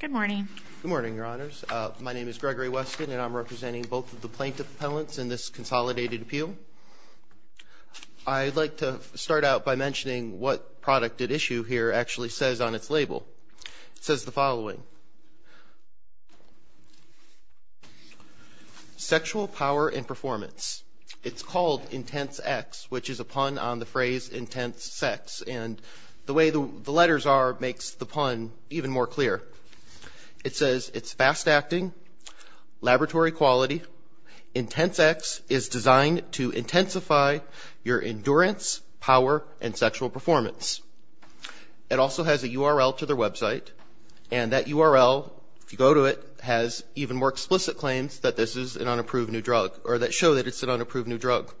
Good morning. Good morning, Your Honors. My name is Gregory Weston, and I'm representing both of the plaintiff appellants in this consolidated appeal. I'd like to start out by mentioning what product at issue here actually says on its label. It says the following, sexual power and performance. It's called Intense X, which is a pun on the phrase intense sex. And the way the letters are makes the pun even more clear. It says it's fast acting, laboratory quality. Intense X is designed to intensify your endurance, power, and sexual performance. It also has a URL to their website, and that URL, if you go to it, has even more explicit claims that this is an unapproved new drug, or that show that it's an unapproved new drug.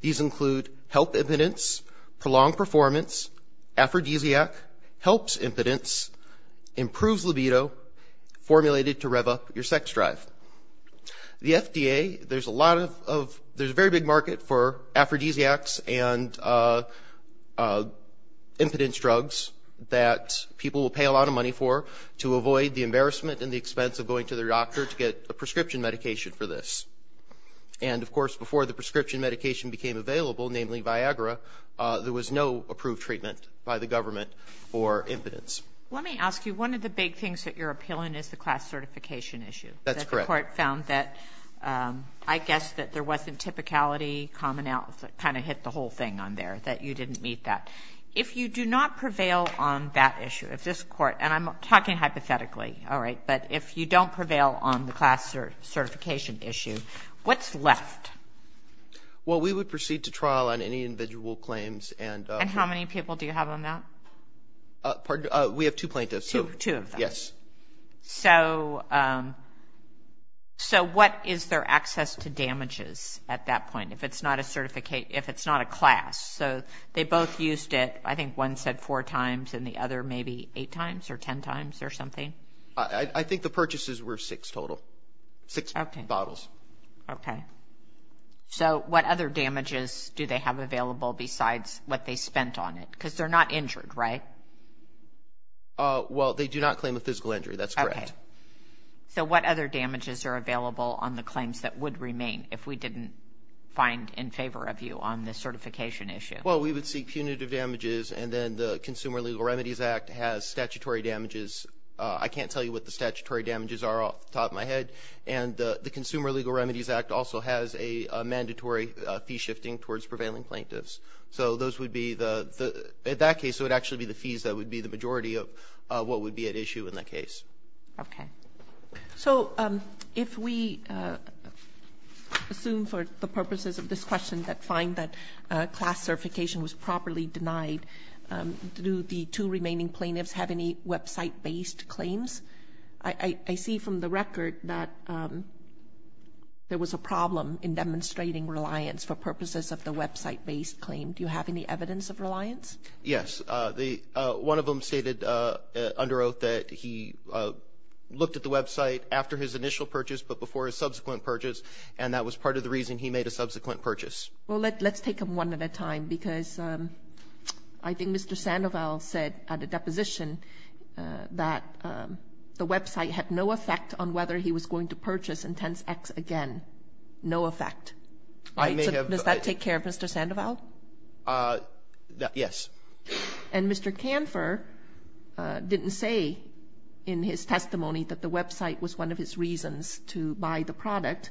These include health impotence, prolonged performance, aphrodisiac, helps impotence, improves libido, formulated to rev up your sex drive. The FDA, there's a lot of, there's a very big market for aphrodisiacs and impotence drugs that people will pay a lot of money for to avoid the embarrassment and the expense of going to their doctor to get a prescription medication for this. And, of course, before the prescription medication became available, namely Viagra, there was no approved treatment by the government for impotence. Let me ask you, one of the big things that you're appealing is the class certification issue. That's correct. The court found that, I guess, that there wasn't typicality, commonality, kind of hit the whole thing on there, that you didn't meet that. If you do not prevail on that issue, if this court, and I'm talking hypothetically, all right, but if you don't prevail on the class certification issue, what's left? Well, we would proceed to trial on any individual claims. And how many people do you have on that? We have two plaintiffs. Two of them. Yes. So what is their access to damages at that point if it's not a class? So they both used it, I think one said four times, and the other maybe eight times or ten times or something? I think the purchases were six total, six bottles. Okay. So what other damages do they have available besides what they spent on it? Because they're not injured, right? Well, they do not claim a physical injury. That's correct. Okay. So what other damages are available on the claims that would remain if we didn't find in favor of you on the certification issue? Well, we would seek punitive damages, and then the Consumer Legal Remedies Act has statutory damages. I can't tell you what the statutory damages are off the top of my head. And the Consumer Legal Remedies Act also has a mandatory fee shifting towards prevailing plaintiffs. So those would be the at that case, it would actually be the fees that would be the majority of what would be at issue in that case. Okay. So if we assume for the purposes of this question that find that class certification was properly denied, do the two remaining plaintiffs have any website-based claims? I see from the record that there was a problem in demonstrating reliance for purposes of the website-based claim. Yes. One of them stated under oath that he looked at the website after his initial purchase but before his subsequent purchase, and that was part of the reason he made a subsequent purchase. Well, let's take them one at a time because I think Mr. Sandoval said at a deposition that the website had no effect on whether he was going to purchase Intense X again. No effect. Does that take care of Mr. Sandoval? Yes. And Mr. Canfor didn't say in his testimony that the website was one of his reasons to buy the product,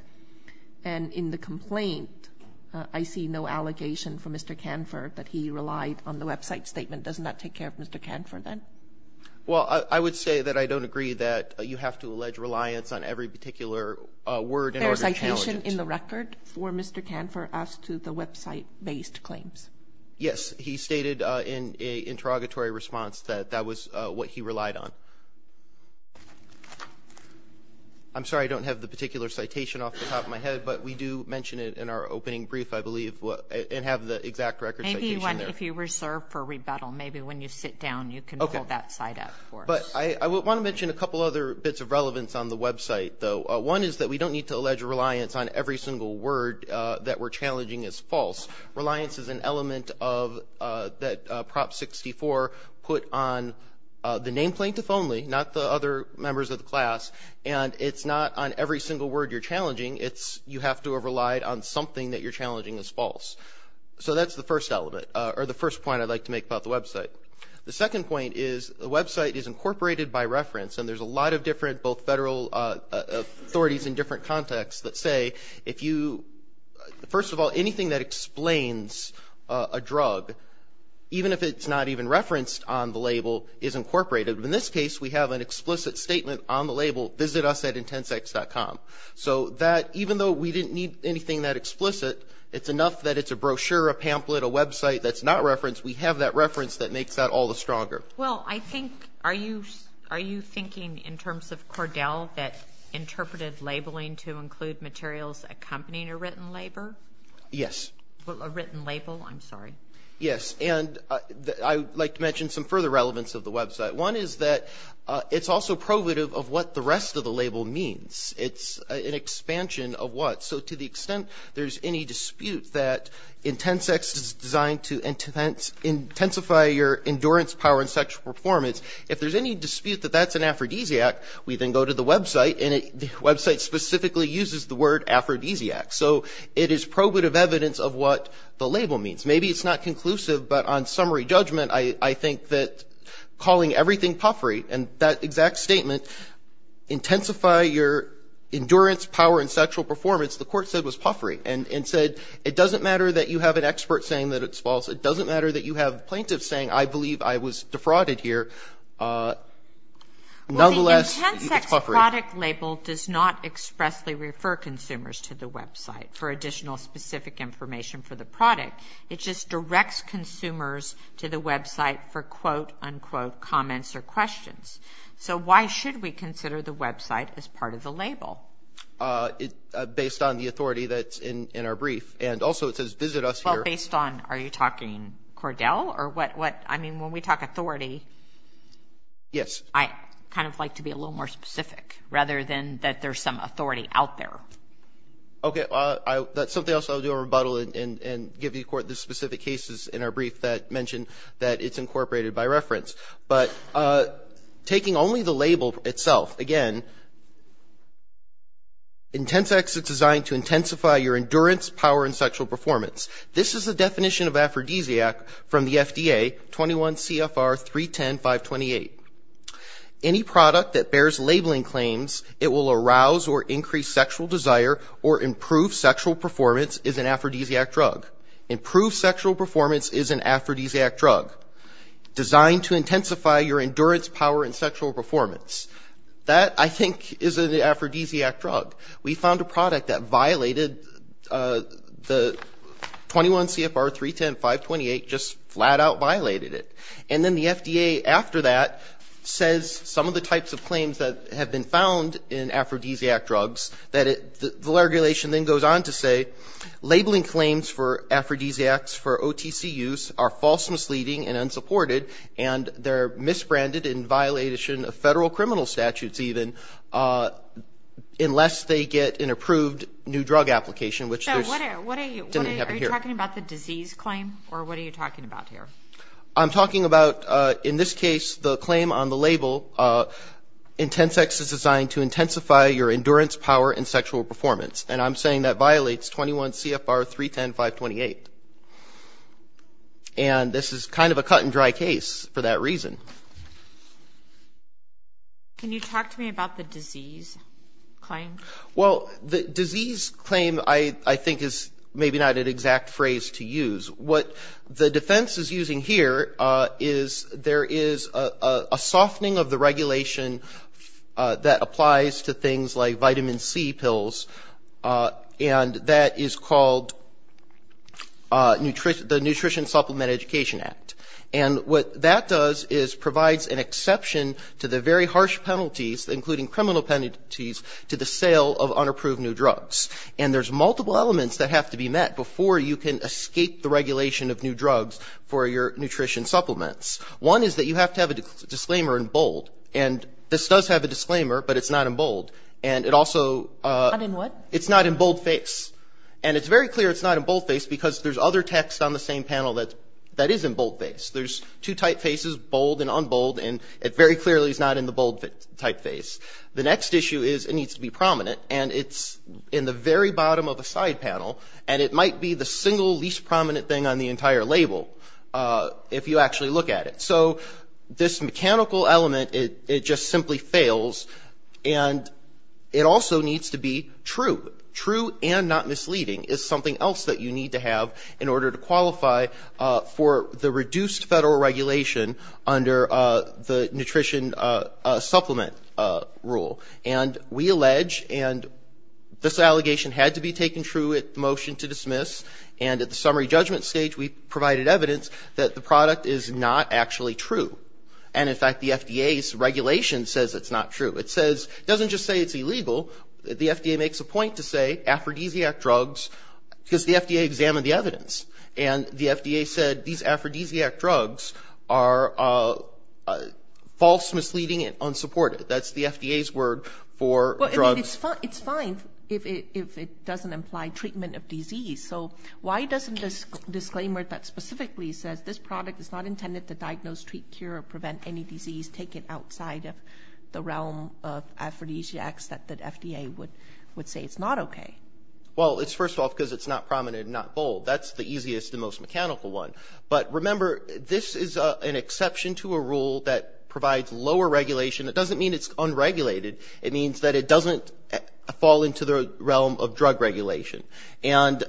and in the complaint I see no allegation from Mr. Canfor that he relied on the website statement. Does that not take care of Mr. Canfor then? Well, I would say that I don't agree that you have to allege reliance on every particular word in order to challenge it. Was there a statement in the record for Mr. Canfor as to the website-based claims? Yes. He stated in an interrogatory response that that was what he relied on. I'm sorry, I don't have the particular citation off the top of my head, but we do mention it in our opening brief, I believe, and have the exact record citation there. Maybe if you reserve for rebuttal, maybe when you sit down you can pull that site up for us. Okay. But I want to mention a couple other bits of relevance on the website, though. One is that we don't need to allege reliance on every single word that we're challenging as false. Reliance is an element that Prop 64 put on the name plaintiff only, not the other members of the class, and it's not on every single word you're challenging. You have to have relied on something that you're challenging as false. So that's the first element, or the first point I'd like to make about the website. The second point is the website is incorporated by reference, and there's a lot of different both federal authorities in different contexts that say, first of all, anything that explains a drug, even if it's not even referenced on the label, is incorporated. In this case, we have an explicit statement on the label, visit us at Intensex.com. So even though we didn't need anything that explicit, it's enough that it's a brochure, a pamphlet, a website that's not referenced, we have that reference that makes that all the stronger. Well, I think, are you thinking in terms of Cordell, that interpreted labeling to include materials accompanying a written label? Yes. A written label, I'm sorry. Yes, and I'd like to mention some further relevance of the website. One is that it's also probative of what the rest of the label means. It's an expansion of what. So to the extent there's any dispute that Intensex is designed to intensify your endurance, power, and sexual performance, if there's any dispute that that's an aphrodisiac, we then go to the website, and the website specifically uses the word aphrodisiac. So it is probative evidence of what the label means. Maybe it's not conclusive, but on summary judgment, I think that calling everything puffery, and that exact statement, intensify your endurance, power, and sexual performance, the court said was puffery, and said it doesn't matter that you have an expert saying that it's false. It doesn't matter that you have plaintiffs saying, I believe I was defrauded here. Nonetheless, it's puffery. Well, the Intensex product label does not expressly refer consumers to the website for additional specific information for the product. It just directs consumers to the website for, quote, unquote, comments or questions. So why should we consider the website as part of the label? Based on the authority that's in our brief, and also it says visit us here. Well, based on, are you talking Cordell or what? I mean, when we talk authority, I kind of like to be a little more specific, rather than that there's some authority out there. Okay, that's something else I'll do a rebuttal and give the court the specific cases in our brief that mention that it's incorporated by reference. But taking only the label itself, again, Intensex is designed to intensify your endurance, power, and sexual performance. This is the definition of aphrodisiac from the FDA, 21 CFR 310.528. Any product that bears labeling claims it will arouse or increase sexual desire or improve sexual performance is an aphrodisiac drug. Improved sexual performance is an aphrodisiac drug. Designed to intensify your endurance, power, and sexual performance. That, I think, is an aphrodisiac drug. We found a product that violated the 21 CFR 310.528, just flat-out violated it. And then the FDA, after that, says some of the types of claims that have been found in aphrodisiac drugs, that the regulation then goes on to say, labeling claims for aphrodisiacs for OTC use are false, misleading, and unsupported, and they're misbranded in violation of federal criminal statutes, even, unless they get an approved new drug application, which didn't happen here. Are you talking about the disease claim, or what are you talking about here? I'm talking about, in this case, the claim on the label, Intensex is designed to intensify your endurance, power, and sexual performance. And I'm saying that violates 21 CFR 310.528. And this is kind of a cut-and-dry case for that reason. Can you talk to me about the disease claim? Well, the disease claim, I think, is maybe not an exact phrase to use. What the defense is using here is there is a softening of the regulation that applies to things like vitamin C pills, and that is called the Nutrition Supplement Education Act. And what that does is provides an exception to the very harsh penalties, including criminal penalties, to the sale of unapproved new drugs. And there's multiple elements that have to be met before you can escape the regulation of new drugs for your nutrition supplements. One is that you have to have a disclaimer in bold. And this does have a disclaimer, but it's not in bold. And it also — Not in what? It's not in boldface. And it's very clear it's not in boldface because there's other text on the same panel that is in boldface. There's two typefaces, bold and unbold, and it very clearly is not in the bold typeface. The next issue is it needs to be prominent, and it's in the very bottom of the side panel, and it might be the single least prominent thing on the entire label, if you actually look at it. So this mechanical element, it just simply fails. And it also needs to be true. True and not misleading is something else that you need to have in order to qualify for the reduced federal regulation under the nutrition supplement rule. And we allege, and this allegation had to be taken true at the motion to dismiss, and at the summary judgment stage we provided evidence that the product is not actually true. And, in fact, the FDA's regulation says it's not true. It doesn't just say it's illegal. The FDA makes a point to say aphrodisiac drugs because the FDA examined the evidence, and the FDA said these aphrodisiac drugs are false, misleading, and unsupported. That's the FDA's word for drugs. Well, it's fine if it doesn't imply treatment of disease. So why doesn't this disclaimer that specifically says this product is not intended to diagnose, treat, cure, or prevent any disease taken outside of the realm of aphrodisiacs that the FDA would say it's not okay? Well, it's first off because it's not prominent and not bold. That's the easiest and most mechanical one. But, remember, this is an exception to a rule that provides lower regulation. It doesn't mean it's unregulated. It means that it doesn't fall into the realm of drug regulation. And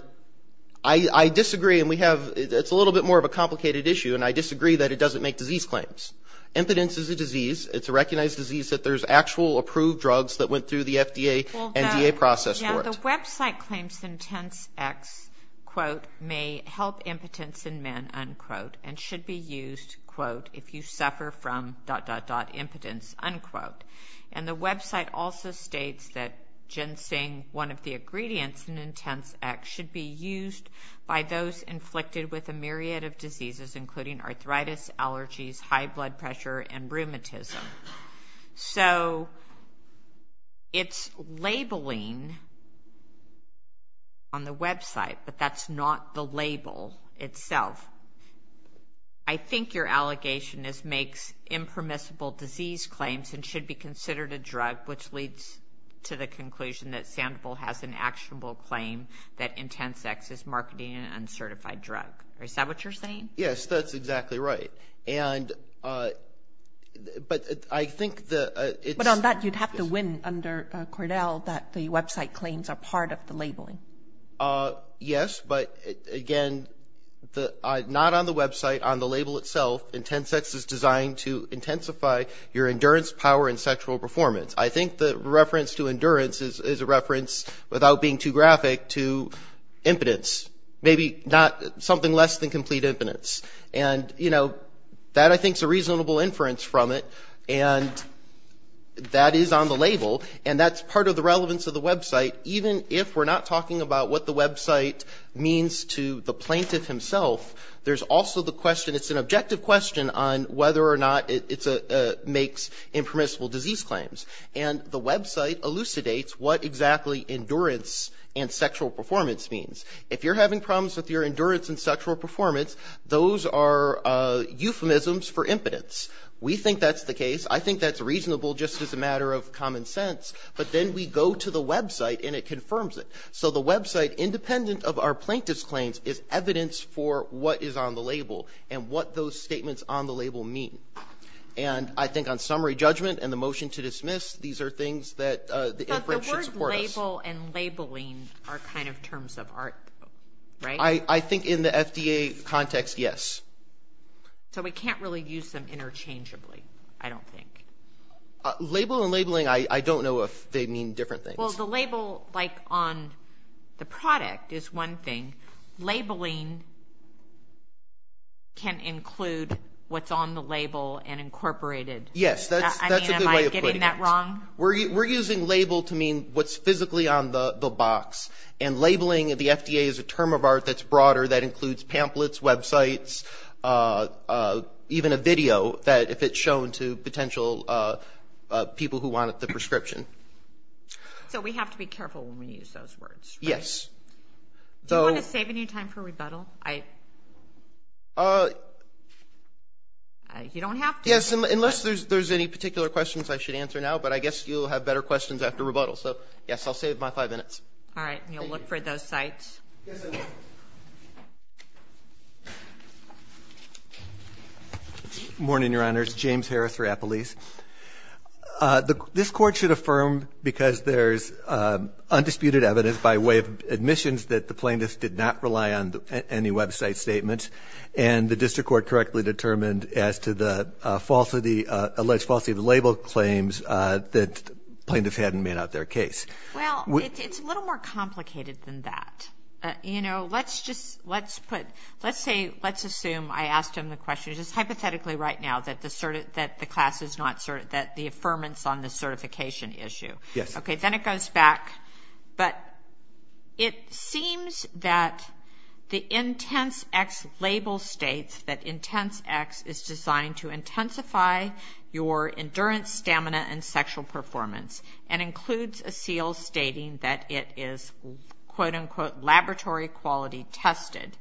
I disagree, and it's a little bit more of a complicated issue, and I disagree that it doesn't make disease claims. Impotence is a disease. It's a recognized disease that there's actual approved drugs that went through the FDA and DA process for it. The website claims that Intense X, quote, may help impotence in men, unquote, and should be used, quote, if you suffer from, dot, dot, dot, impotence, unquote. And the website also states that ginseng, one of the ingredients in Intense X, should be used by those inflicted with a myriad of diseases including arthritis, allergies, high blood pressure, and rheumatism. So it's labeling on the website, but that's not the label itself. I think your allegation is makes impermissible disease claims and should be considered a drug, which leads to the conclusion that Sandoval has an actionable claim that Intense X is marketing an uncertified drug. Is that what you're saying? Yes, that's exactly right. And but I think the ‑‑ But on that you'd have to win under Cordell that the website claims are part of the labeling. Yes, but again, not on the website, on the label itself, Intense X is designed to intensify your endurance, power, and sexual performance. I think the reference to endurance is a reference, without being too graphic, to impotence. Maybe something less than complete impotence. And, you know, that I think is a reasonable inference from it. And that is on the label. And that's part of the relevance of the website. Even if we're not talking about what the website means to the plaintiff himself, there's also the question, it's an objective question on whether or not it makes impermissible disease claims. And the website elucidates what exactly endurance and sexual performance means. If you're having problems with your endurance and sexual performance, those are euphemisms for impotence. We think that's the case. I think that's reasonable just as a matter of common sense. But then we go to the website and it confirms it. So the website, independent of our plaintiff's claims, is evidence for what is on the label and what those statements on the label mean. And I think on summary judgment and the motion to dismiss, these are things that the inference should support us. Label and labeling are kind of terms of art, right? I think in the FDA context, yes. So we can't really use them interchangeably, I don't think. Label and labeling, I don't know if they mean different things. Well, the label, like on the product, is one thing. Labeling can include what's on the label and incorporated. Yes, that's a good way of putting it. Am I getting that wrong? We're using label to mean what's physically on the box. And labeling at the FDA is a term of art that's broader, that includes pamphlets, websites, even a video that if it's shown to potential people who want the prescription. So we have to be careful when we use those words, right? Yes. Do you want to save any time for rebuttal? You don't have to. Yes, unless there's any particular questions I should answer now. But I guess you'll have better questions after rebuttal. So, yes, I'll save my five minutes. All right. And you'll look for those sites. Yes, I will. Good morning, Your Honors. James Harris, Rappalese. This Court should affirm, because there's undisputed evidence by way of admissions that the plaintiffs did not rely on any website statements, and the district court correctly determined as to the alleged falsity of the label claims that plaintiffs had and made out their case. Well, it's a little more complicated than that. You know, let's assume I asked him the question just hypothetically right now that the class is not certain that the affirmance on the certification issue. Yes. Okay, then it goes back. But it seems that the Intense-X label states that Intense-X is designed to intensify your endurance, stamina, and sexual performance, and includes a seal stating that it is, quote-unquote, laboratory quality tested,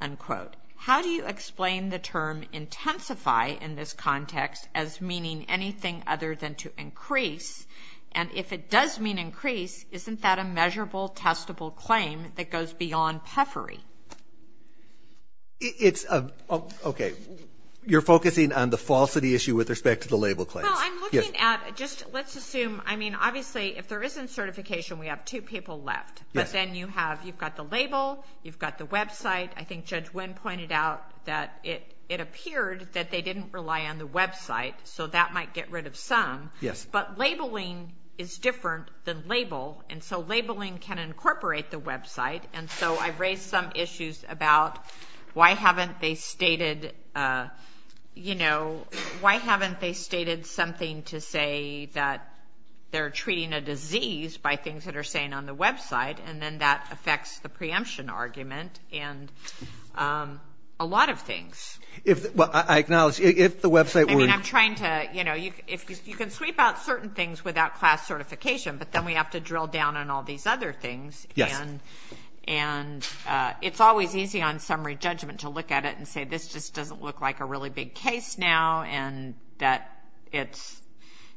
unquote. How do you explain the term intensify in this context as meaning anything other than to increase? And if it does mean increase, isn't that a measurable, testable claim that goes beyond puffery? It's a – okay. You're focusing on the falsity issue with respect to the label claims. Well, I'm looking at – just let's assume – I mean, obviously, if there isn't certification, we have two people left. But then you have – you've got the label, you've got the website. I think Judge Wynn pointed out that it appeared that they didn't rely on the website, so that might get rid of some. Yes. But labeling is different than label, and so labeling can incorporate the website. And so I've raised some issues about why haven't they stated – you know, why haven't they stated something to say that they're treating a disease by things that are saying on the website, and then that affects the preemption argument and a lot of things. Well, I acknowledge, if the website were – And I'm trying to – you know, you can sweep out certain things without class certification, but then we have to drill down on all these other things. Yes. And it's always easy on summary judgment to look at it and say this just doesn't look like a really big case now and that it's –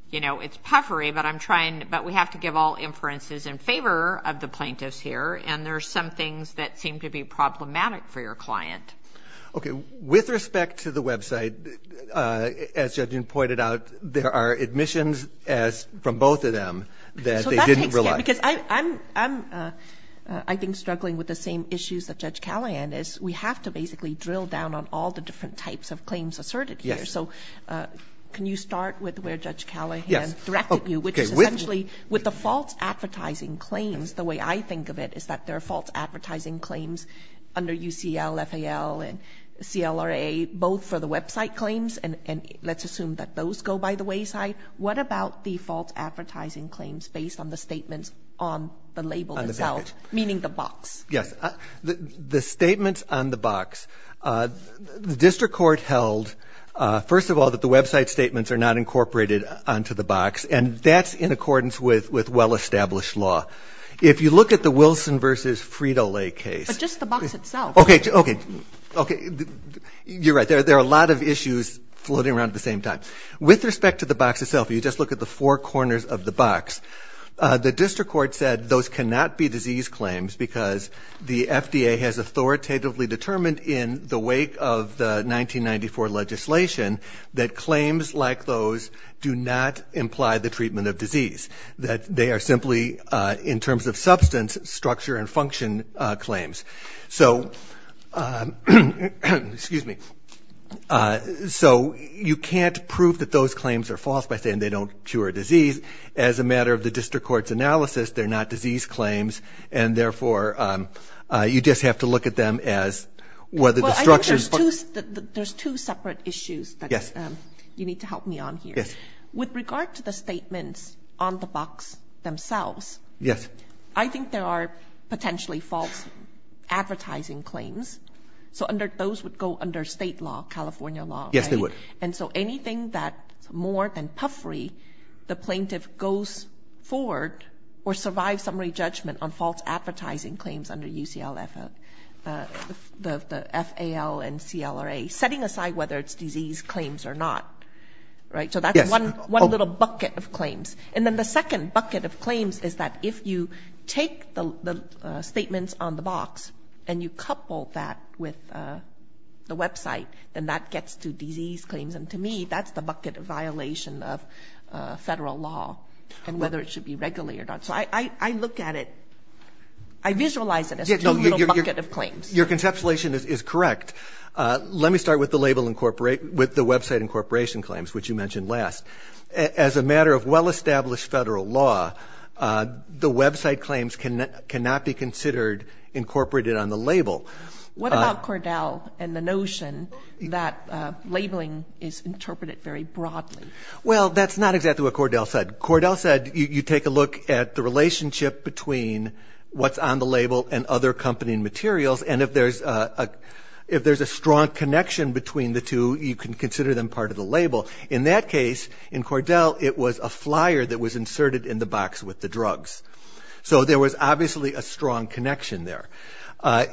you know, it's puffery. But I'm trying – but we have to give all inferences in favor of the plaintiffs here, and there are some things that seem to be problematic for your client. Okay. With respect to the website, as Judge Nguyen pointed out, there are admissions from both of them that they didn't rely on. So that takes care because I'm, I think, struggling with the same issues that Judge Callahan is. We have to basically drill down on all the different types of claims asserted here. Yes. So can you start with where Judge Callahan directed you, which is essentially with the false advertising claims, the way I think of it is that there are false advertising claims under UCL, FAL, and CLRA, both for the website claims, and let's assume that those go by the wayside. What about the false advertising claims based on the statements on the label itself, meaning the box? Yes. The statements on the box, the district court held, first of all, that the website statements are not incorporated onto the box, and that's in accordance with well-established law. If you look at the Wilson v. Frito-Lay case. But just the box itself. Okay. Okay. Okay. You're right. There are a lot of issues floating around at the same time. With respect to the box itself, you just look at the four corners of the box, the district court said those cannot be disease claims because the FDA has authoritatively determined in the wake of the 1994 legislation that claims like those do not imply the treatment of disease, that they are simply, in terms of substance, structure and function claims. So you can't prove that those claims are false by saying they don't cure a disease. As a matter of the district court's analysis, they're not disease claims, and, therefore, you just have to look at them as whether the structures. Well, I think there's two separate issues that you need to help me on here. Yes. With regard to the statements on the box themselves. Yes. I think there are potentially false advertising claims. So those would go under State law, California law. Yes, they would. And so anything that's more than puffery, the plaintiff goes forward or survives summary judgment on false advertising claims under the FAL and CLRA, setting aside whether it's disease claims or not. Right? So that's one little bucket of claims. And then the second bucket of claims is that if you take the statements on the box and you couple that with the website, then that gets to disease claims. And to me, that's the bucket of violation of federal law and whether it should be regulated or not. So I look at it, I visualize it as two little buckets of claims. Your conceptualization is correct. Let me start with the website incorporation claims, which you mentioned last. As a matter of well-established federal law, the website claims cannot be considered incorporated on the label. What about Cordell and the notion that labeling is interpreted very broadly? Well, that's not exactly what Cordell said. Cordell said you take a look at the relationship between what's on the label and other accompanying materials, and if there's a strong connection between the two, you can consider them part of the label. In that case, in Cordell, it was a flyer that was inserted in the box with the drugs. So there was obviously a strong connection there.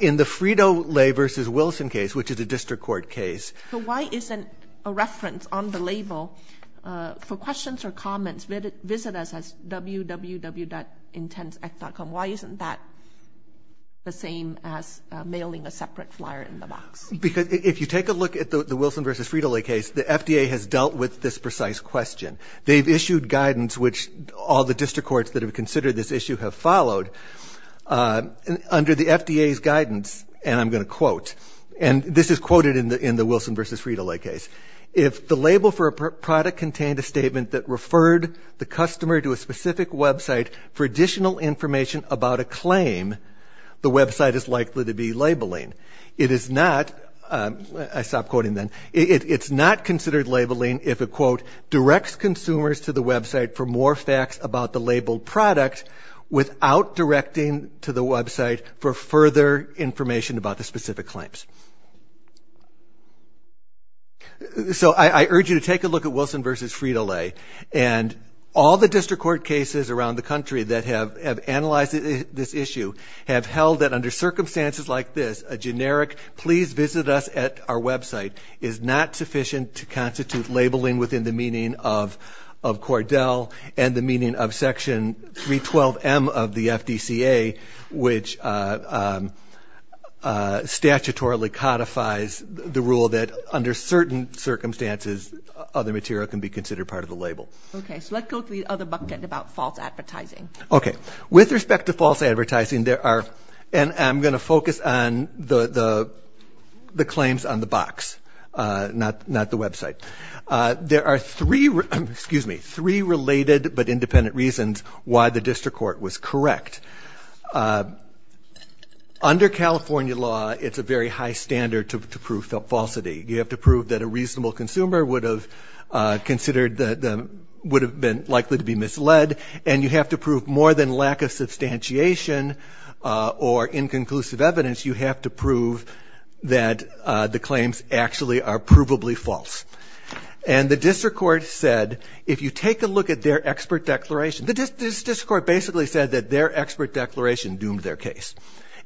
In the Frito-Lay v. Wilson case, which is a district court case. So why isn't a reference on the label, for questions or comments, visit us at www.intents.com? Why isn't that the same as mailing a separate flyer in the box? Because if you take a look at the Wilson v. Frito-Lay case, the FDA has dealt with this precise question. They've issued guidance, which all the district courts that have considered this issue have followed. Under the FDA's guidance, and I'm going to quote, and this is quoted in the Wilson v. Frito-Lay case, if the label for a product contained a statement that referred the customer to a specific website for additional information about a claim, the website is likely to be labeling. It is not, I stopped quoting then, it's not considered labeling if a quote directs consumers to the website for more facts about the labeled product without directing to the website for further information about the specific claims. So I urge you to take a look at Wilson v. Frito-Lay. And all the district court cases around the country that have analyzed this issue have held that under circumstances like this, a generic please visit us at our website is not sufficient to constitute labeling within the meaning of Cordell and the meaning of section 312M of the FDCA, which statutorily codifies the rule that under certain circumstances other material can be considered part of the label. Okay, so let's go to the other bucket about false advertising. Okay, with respect to false advertising there are, and I'm going to focus on the claims on the box. Not the website. There are three, excuse me, three related but independent reasons why the district court was correct. Under California law it's a very high standard to prove falsity. You have to prove that a reasonable consumer would have considered, would have been likely to be misled. And you have to prove more than lack of substantiation or inconclusive evidence, you have to prove that the claims actually are provably false. And the district court said if you take a look at their expert declaration, the district court basically said that their expert declaration doomed their case.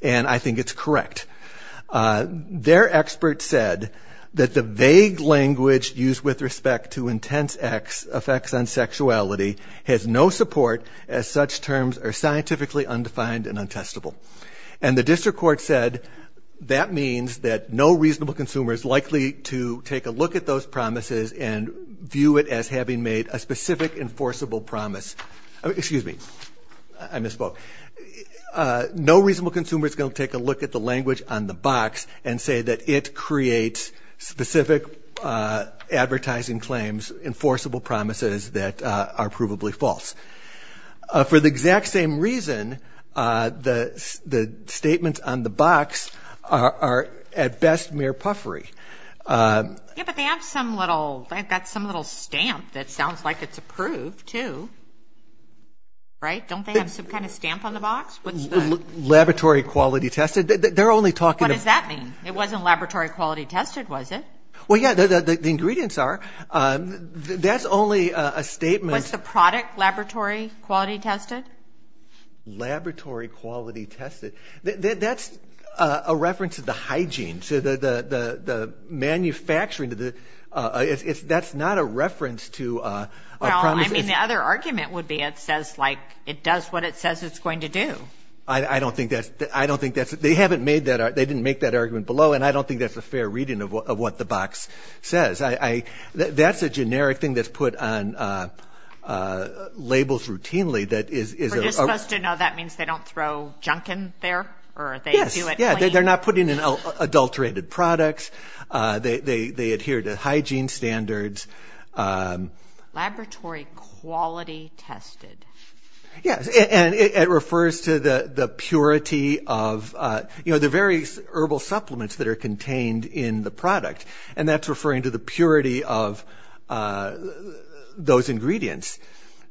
And I think it's correct. Their expert said that the vague language used with respect to intense effects on sexuality has no support as such terms are scientifically undefined and untestable. And the district court said that means that no reasonable consumer is likely to take a look at those promises and view it as having made a specific enforceable promise. Excuse me, I misspoke. No reasonable consumer is going to take a look at the language on the box and say that it creates specific advertising claims, enforceable promises that are provably false. For the exact same reason, the statements on the box are at best mere puffery. Yeah, but they have some little, they've got some little stamp that sounds like it's approved, too. Right? Don't they have some kind of stamp on the box? Laboratory quality tested. They're only talking about... What does that mean? It wasn't laboratory quality tested, was it? Well, yeah, the ingredients are. That's only a statement... What's the product? Laboratory quality tested? Laboratory quality tested. That's a reference to the hygiene. So the manufacturing, that's not a reference to... Well, I mean, the other argument would be it says like it does what it says it's going to do. I don't think that's, I don't think that's, they haven't made that, they didn't make that argument below and I don't think that's a fair reading of what the box says. That's a generic thing that's put on labels routinely that is... We're just supposed to know that means they don't throw junk in there? Yes, yeah, they're not putting in adulterated products. They adhere to hygiene standards. Laboratory quality tested. Yes, and it refers to the purity of, you know, the various herbal supplements that are contained in the product. And that's referring to the purity of those ingredients,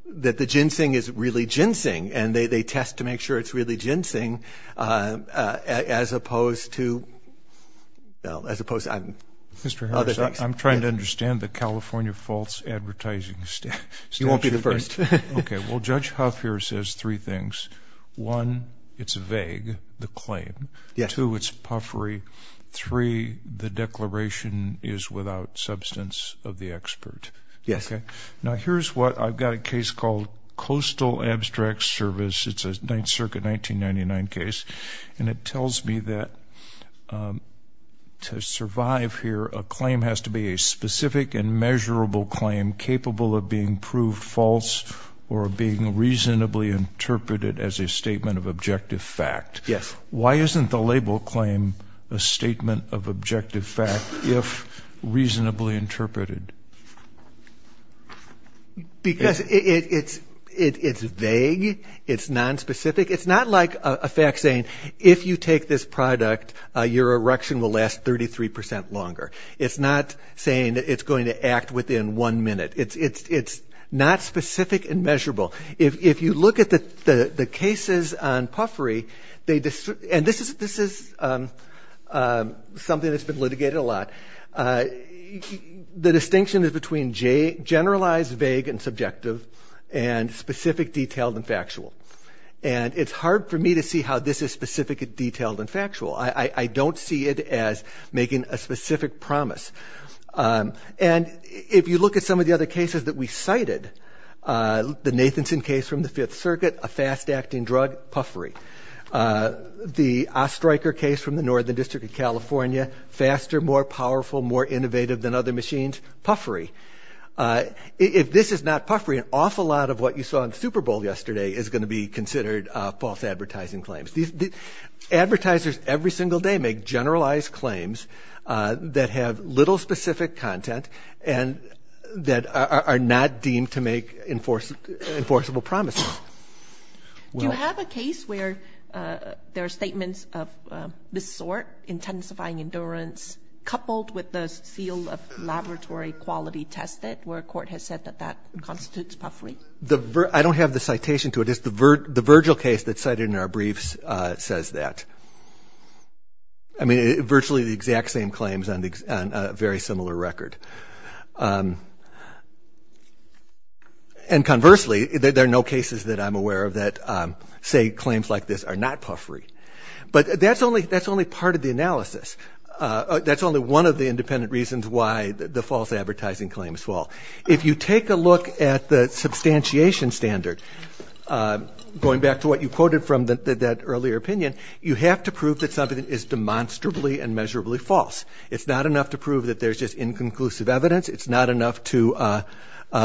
that the ginseng is really ginseng and they test to make sure it's really ginseng as opposed to, as opposed to other things. Mr. Harris, I'm trying to understand the California False Advertising Statute. You won't be the first. Okay, well, Judge Huff here says three things. One, it's vague, the claim. Two, it's puffery. Three, the declaration is without substance of the expert. Yes. Now, here's what. I've got a case called Coastal Abstract Service. It's a Ninth Circuit 1999 case, and it tells me that to survive here, a claim has to be a specific and measurable claim capable of being proved false or being reasonably interpreted as a statement of objective fact. Yes. Why isn't the label claim a statement of objective fact if reasonably interpreted? Because it's vague. It's nonspecific. It's not like a fact saying if you take this product, your erection will last 33% longer. It's not saying that it's going to act within one minute. It's not specific and measurable. If you look at the cases on puffery, and this is something that's been litigated a lot, the distinction is between generalized, vague, and subjective, and specific, detailed, and factual. And it's hard for me to see how this is specific and detailed and factual. I don't see it as making a specific promise. And if you look at some of the other cases that we cited, the Nathanson case from the Fifth Circuit, a fast-acting drug, puffery. The Ostreicher case from the Northern District of California, faster, more powerful, more innovative than other machines, puffery. If this is not puffery, an awful lot of what you saw in the Super Bowl yesterday is going to be considered false advertising claims. Advertisers every single day make generalized claims that have little specific content and that are not deemed to make enforceable promises. Do you have a case where there are statements of this sort, intensifying endurance, coupled with the seal of laboratory quality tested, where a court has said that that constitutes puffery? I don't have the citation to it. It's the Virgil case that's cited in our briefs that says that. I mean, virtually the exact same claims on a very similar record. And conversely, there are no cases that I'm aware of that say claims like this are not puffery. But that's only part of the analysis. That's only one of the independent reasons why the false advertising claims fall. If you take a look at the substantiation standard, going back to what you quoted from that earlier opinion, you have to prove that something is demonstrably and measurably false. It's not enough to prove that there's just inconclusive evidence. It's not enough to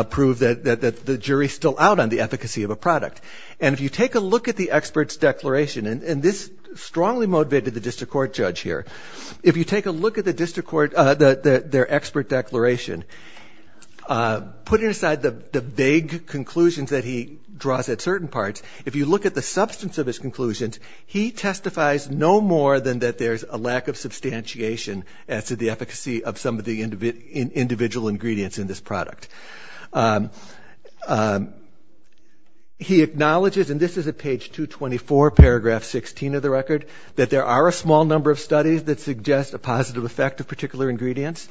prove that the jury's still out on the efficacy of a product. And if you take a look at the expert's declaration, and this strongly motivated the district court judge here, if you take a look at the district court, their expert declaration, putting aside the vague conclusions that he draws at certain parts, if you look at the substance of his conclusions, he testifies no more than that there's a lack of substantiation as to the efficacy of some of the individual ingredients in this product. He acknowledges, and this is at page 224, paragraph 16 of the record, that there are a small number of studies that suggest a positive effect of particular ingredients.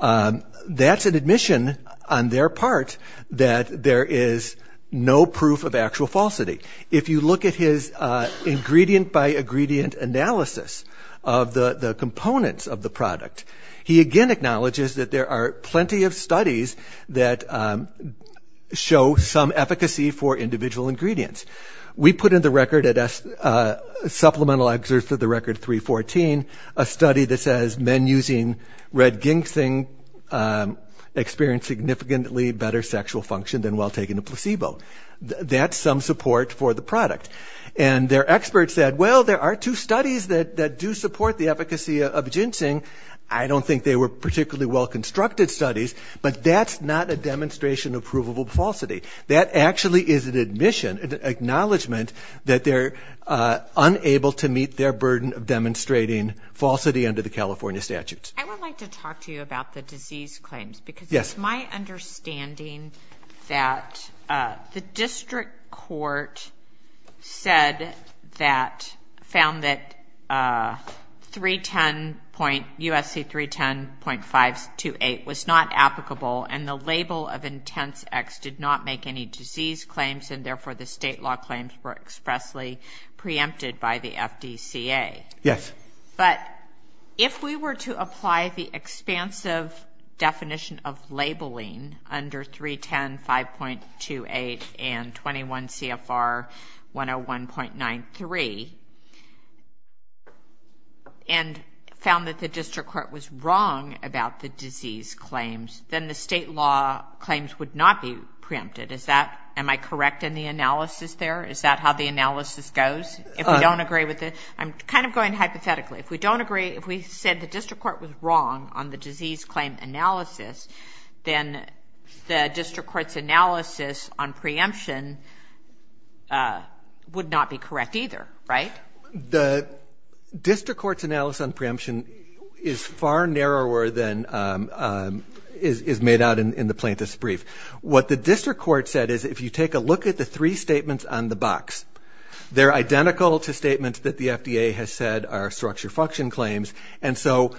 That's an admission on their part that there is no proof of actual falsity. If you look at his ingredient-by-ingredient analysis of the components of the product, he again acknowledges that there are plenty of studies that show some efficacy for individual ingredients. We put in the record, supplemental excerpt of the record 314, a study that says men using red ginseng experience significantly better sexual function than while taking a placebo. And their expert said, well, there are two studies that do support the efficacy of ginseng. I don't think they were particularly well-constructed studies, but that's not a demonstration of provable falsity. That actually is an admission, an acknowledgment, that they're unable to meet their burden of demonstrating falsity under the California statutes. I would like to talk to you about the disease claims because it's my understanding that the district court said that, found that USC 310.528 was not applicable, and the label of intense X did not make any disease claims, and therefore the state law claims were expressly preempted by the FDCA. Yes. But if we were to apply the expansive definition of labeling under 310.528 and 21 CFR 101.93, and found that the district court was wrong about the disease claims, then the state law claims would not be preempted. Is that, am I correct in the analysis there? Is that how the analysis goes if we don't agree with it? I'm kind of going hypothetically. If we don't agree, if we said the district court was wrong on the disease claim analysis, then the district court's analysis on preemption would not be correct either, right? The district court's analysis on preemption is far narrower than is made out in the plaintiff's brief. What the district court said is if you take a look at the three statements on the box, they're identical to statements that the FDA has said are structure function claims, and so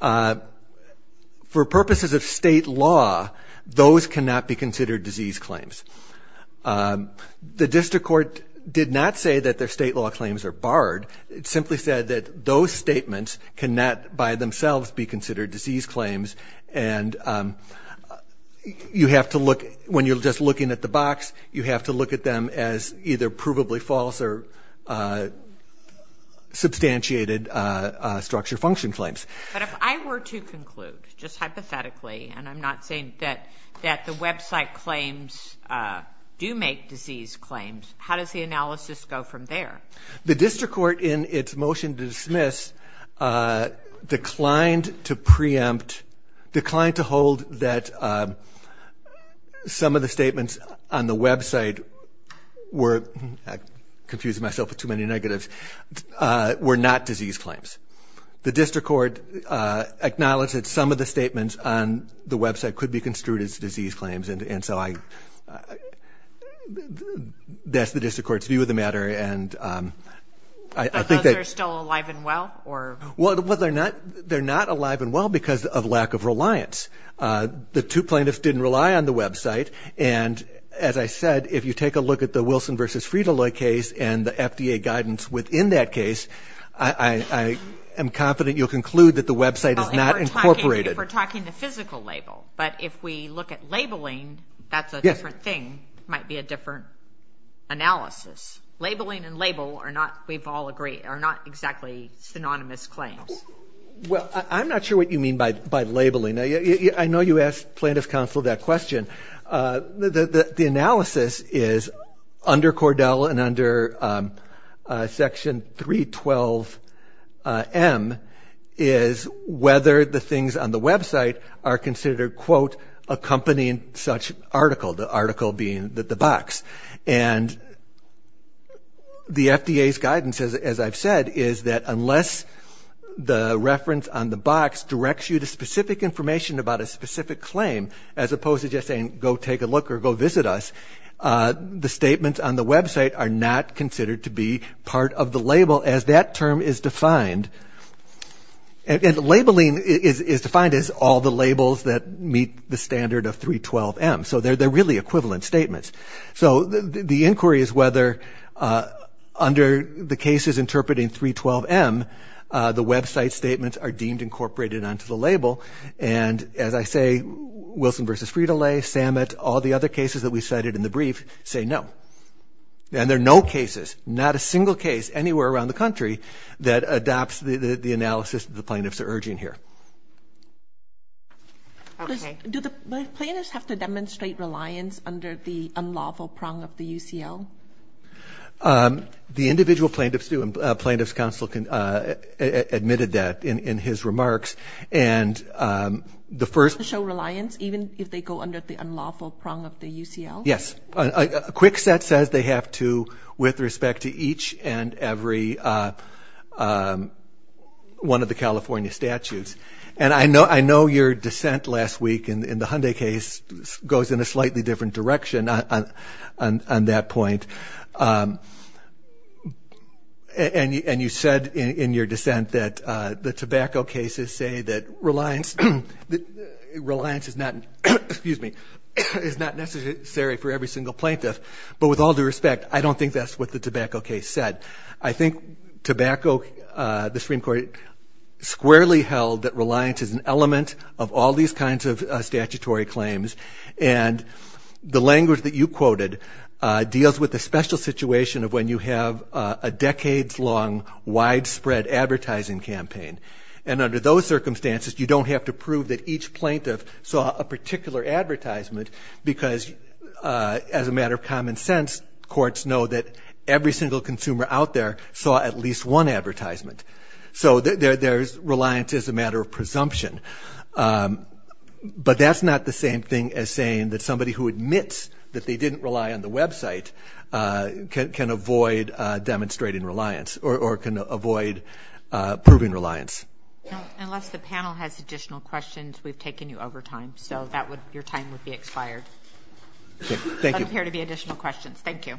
for purposes of state law, those cannot be considered disease claims. The district court did not say that their state law claims are barred. It simply said that those statements cannot by themselves be considered disease claims, and you have to look, when you're just looking at the box, you have to look at them as either provably false or substantiated structure function claims. But if I were to conclude, just hypothetically, and I'm not saying that the website claims do make disease claims, how does the analysis go from there? The district court in its motion to dismiss declined to preempt, declined to hold that some of the statements on the website were, I'm confusing myself with too many negatives, were not disease claims. The district court acknowledged that some of the statements on the website could be construed as disease claims, and so that's the district court's view of the matter. But those are still alive and well? Well, they're not alive and well because of lack of reliance. The two plaintiffs didn't rely on the website, and as I said, if you take a look at the Wilson v. Frito-Loy case and the FDA guidance within that case, I am confident you'll conclude that the website is not incorporated. If we're talking the physical label, but if we look at labeling, that's a different thing. It might be a different analysis. Labeling and label are not, we've all agreed, are not exactly synonymous claims. Well, I'm not sure what you mean by labeling. I know you asked plaintiff counsel that question. The analysis is under Cordell and under Section 312M is whether the things on the website are considered, quote, accompanying such article, the article being the box. And the FDA's guidance, as I've said, is that unless the reference on the box directs you to specific information about a specific claim, as opposed to just saying go take a look or go visit us, the statements on the website are not considered to be part of the label as that term is defined. And labeling is defined as all the labels that meet the standard of 312M. So they're really equivalent statements. So the inquiry is whether under the cases interpreting 312M, the website statements are deemed incorporated onto the label. And as I say, Wilson v. Frito-Lay, Samet, all the other cases that we cited in the brief say no. And there are no cases, not a single case anywhere around the country, that adopts the analysis that the plaintiffs are urging here. Okay. Do the plaintiffs have to demonstrate reliance under the unlawful prong of the UCL? The individual plaintiffs do, and Plaintiff's Counsel admitted that in his remarks. And the first- Show reliance even if they go under the unlawful prong of the UCL? Yes. A quick set says they have to with respect to each and every one of the California statutes. And I know your dissent last week in the Hyundai case goes in a slightly different direction on that point. And you said in your dissent that the tobacco cases say that reliance is not necessary for every single plaintiff. But with all due respect, I don't think that's what the tobacco case said. I think tobacco, the Supreme Court squarely held that reliance is an element of all these kinds of statutory claims. And the language that you quoted deals with the special situation of when you have a decades-long, widespread advertising campaign. And under those circumstances, you don't have to prove that each plaintiff saw a particular advertisement because, as a matter of common sense, courts know that every single consumer out there saw at least one advertisement. So there's reliance as a matter of presumption. But that's not the same thing as saying that somebody who admits that they didn't rely on the website can avoid demonstrating reliance or can avoid proving reliance. Unless the panel has additional questions, we've taken you over time. So your time would be expired. There appear to be additional questions. Thank you.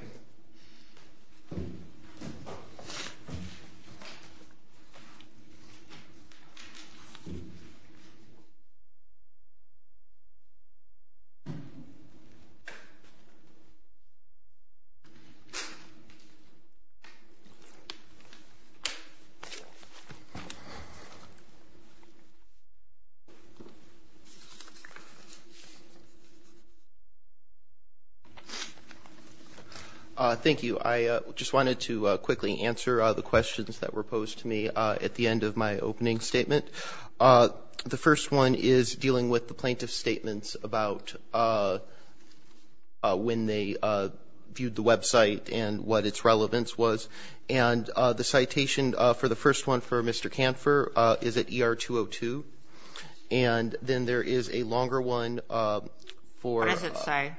Thank you. I just wanted to quickly answer the questions that were posed to me at the end of my opening statement. The first one is dealing with the plaintiff's statements about when they viewed the website and what its relevance was. And the citation for the first one for Mr. Kanfer is at ER-202. And then there is a longer one for ---- What does it say?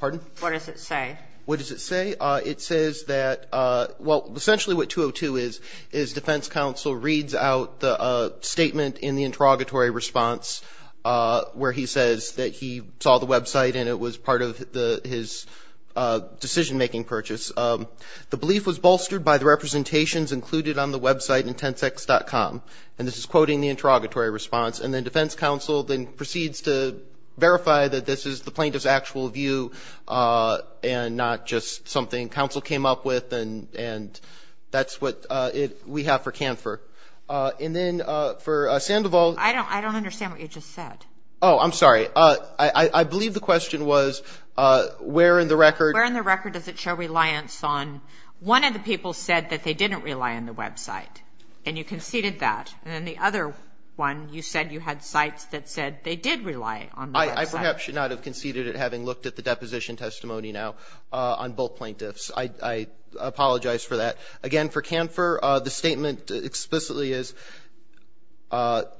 Pardon? What does it say? What does it say? It says that, well, essentially what 202 is, is defense counsel reads out the statement in the interrogatory response where he says that he saw the website and it was part of his decision-making purchase. The belief was bolstered by the representations included on the website in tensex.com. And this is quoting the interrogatory response. And then defense counsel then proceeds to verify that this is the plaintiff's actual view and not just something counsel came up with, and that's what we have for Kanfer. And then for Sandoval ---- I don't understand what you just said. Oh, I'm sorry. I believe the question was where in the record ---- Where in the record does it show reliance on one of the people said that they didn't rely on the website and you conceded that. And then the other one, you said you had sites that said they did rely on the website. I perhaps should not have conceded it having looked at the deposition testimony now on both plaintiffs. I apologize for that. Again, for Kanfer, the statement explicitly is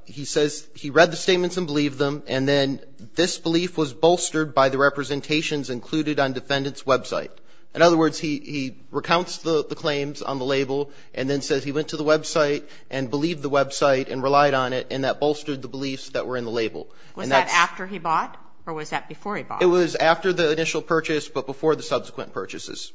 he says he read the statements and believed them, and then this belief was bolstered by the representations included on defendant's website. In other words, he recounts the claims on the label and then says he went to the website and believed the website and relied on it, and that bolstered the beliefs that were in the label. Was that after he bought or was that before he bought? It was after the initial purchase but before the subsequent purchases.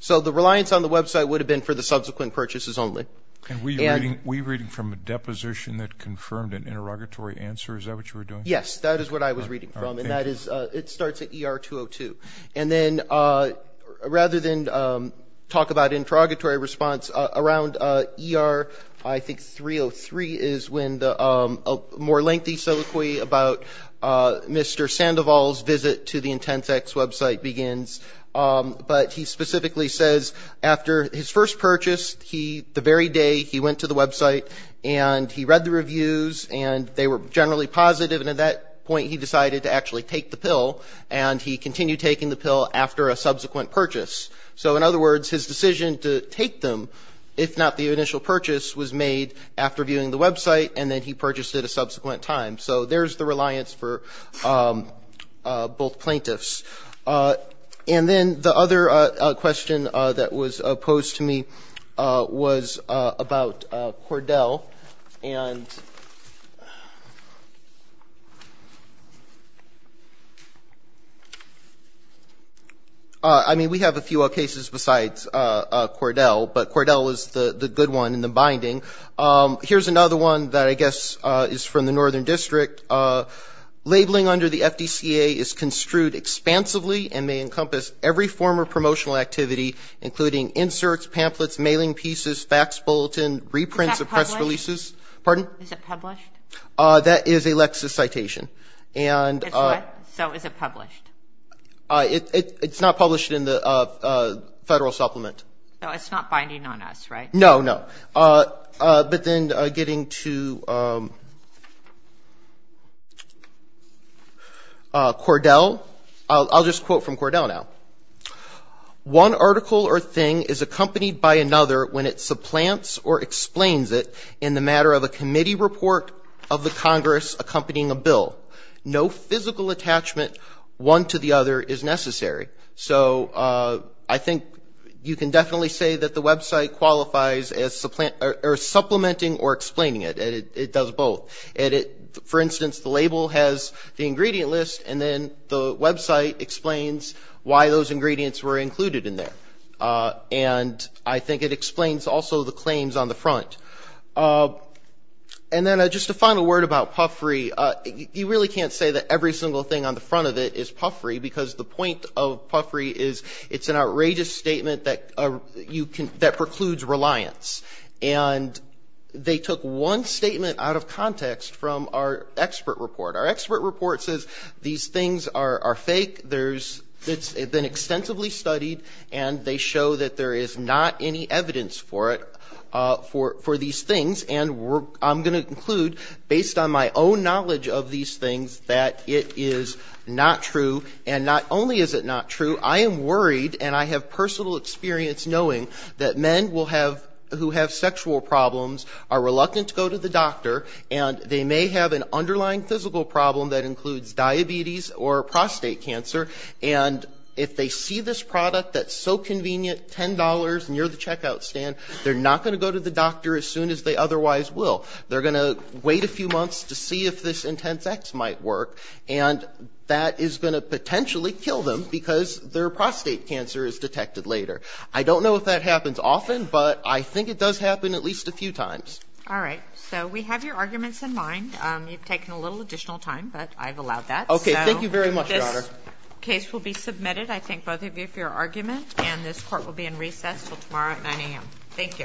So the reliance on the website would have been for the subsequent purchases only. And were you reading from a deposition that confirmed an interrogatory answer? Is that what you were doing? Yes, that is what I was reading from. And that is ---- All right. Thank you. Thank you. And then rather than talk about interrogatory response around ER, I think 303 is when the more lengthy soliloquy about Mr. Sandoval's visit to the Intensex website begins. But he specifically says after his first purchase, the very day he went to the website and he read the reviews and they were generally positive, and at that point he decided to actually take the pill and he continued taking the pill after a subsequent purchase. So, in other words, his decision to take them, if not the initial purchase, was made after viewing the website and then he purchased it a subsequent time. So there is the reliance for both plaintiffs. And then the other question that was posed to me was about Cordell. And, I mean, we have a few other cases besides Cordell, but Cordell was the good one in the binding. Here is another one that I guess is from the Northern District. Labeling under the FDCA is construed expansively and may encompass every form of promotional activity, including inserts, pamphlets, mailing pieces, fax bulletin, reprints of press releases. Is that published? Pardon? Is it published? That is a Lexis citation. So is it published? It's not published in the Federal Supplement. So it's not binding on us, right? No, no. But then getting to Cordell, I'll just quote from Cordell now. One article or thing is accompanied by another when it supplants or explains it in the matter of a committee report of the Congress accompanying a bill. No physical attachment one to the other is necessary. So I think you can definitely say that the website qualifies as supplementing or explaining it. It does both. For instance, the label has the ingredient list, and then the website explains why those ingredients were included in there. And I think it explains also the claims on the front. And then just a final word about puffery. You really can't say that every single thing on the front of it is puffery because the point of puffery is it's an outrageous statement that precludes reliance. And they took one statement out of context from our expert report. Our expert report says these things are fake, it's been extensively studied, and they show that there is not any evidence for it, for these things. And I'm going to conclude, based on my own knowledge of these things, that it is not true. And not only is it not true, I am worried, and I have personal experience knowing that men who have sexual problems are reluctant to go to the doctor, and they may have an underlying physical problem that includes diabetes or prostate cancer. And if they see this product that's so convenient, $10 near the checkout stand, they're not going to go to the doctor as soon as they otherwise will. They're going to wait a few months to see if this Intense X might work, and that is going to potentially kill them because their prostate cancer is detected later. I don't know if that happens often, but I think it does happen at least a few times. All right. So we have your arguments in mind. You've taken a little additional time, but I've allowed that. Okay. Thank you very much, Your Honor. This case will be submitted. I thank both of you for your argument. And this Court will be in recess until tomorrow at 9 a.m. Thank you. All rise.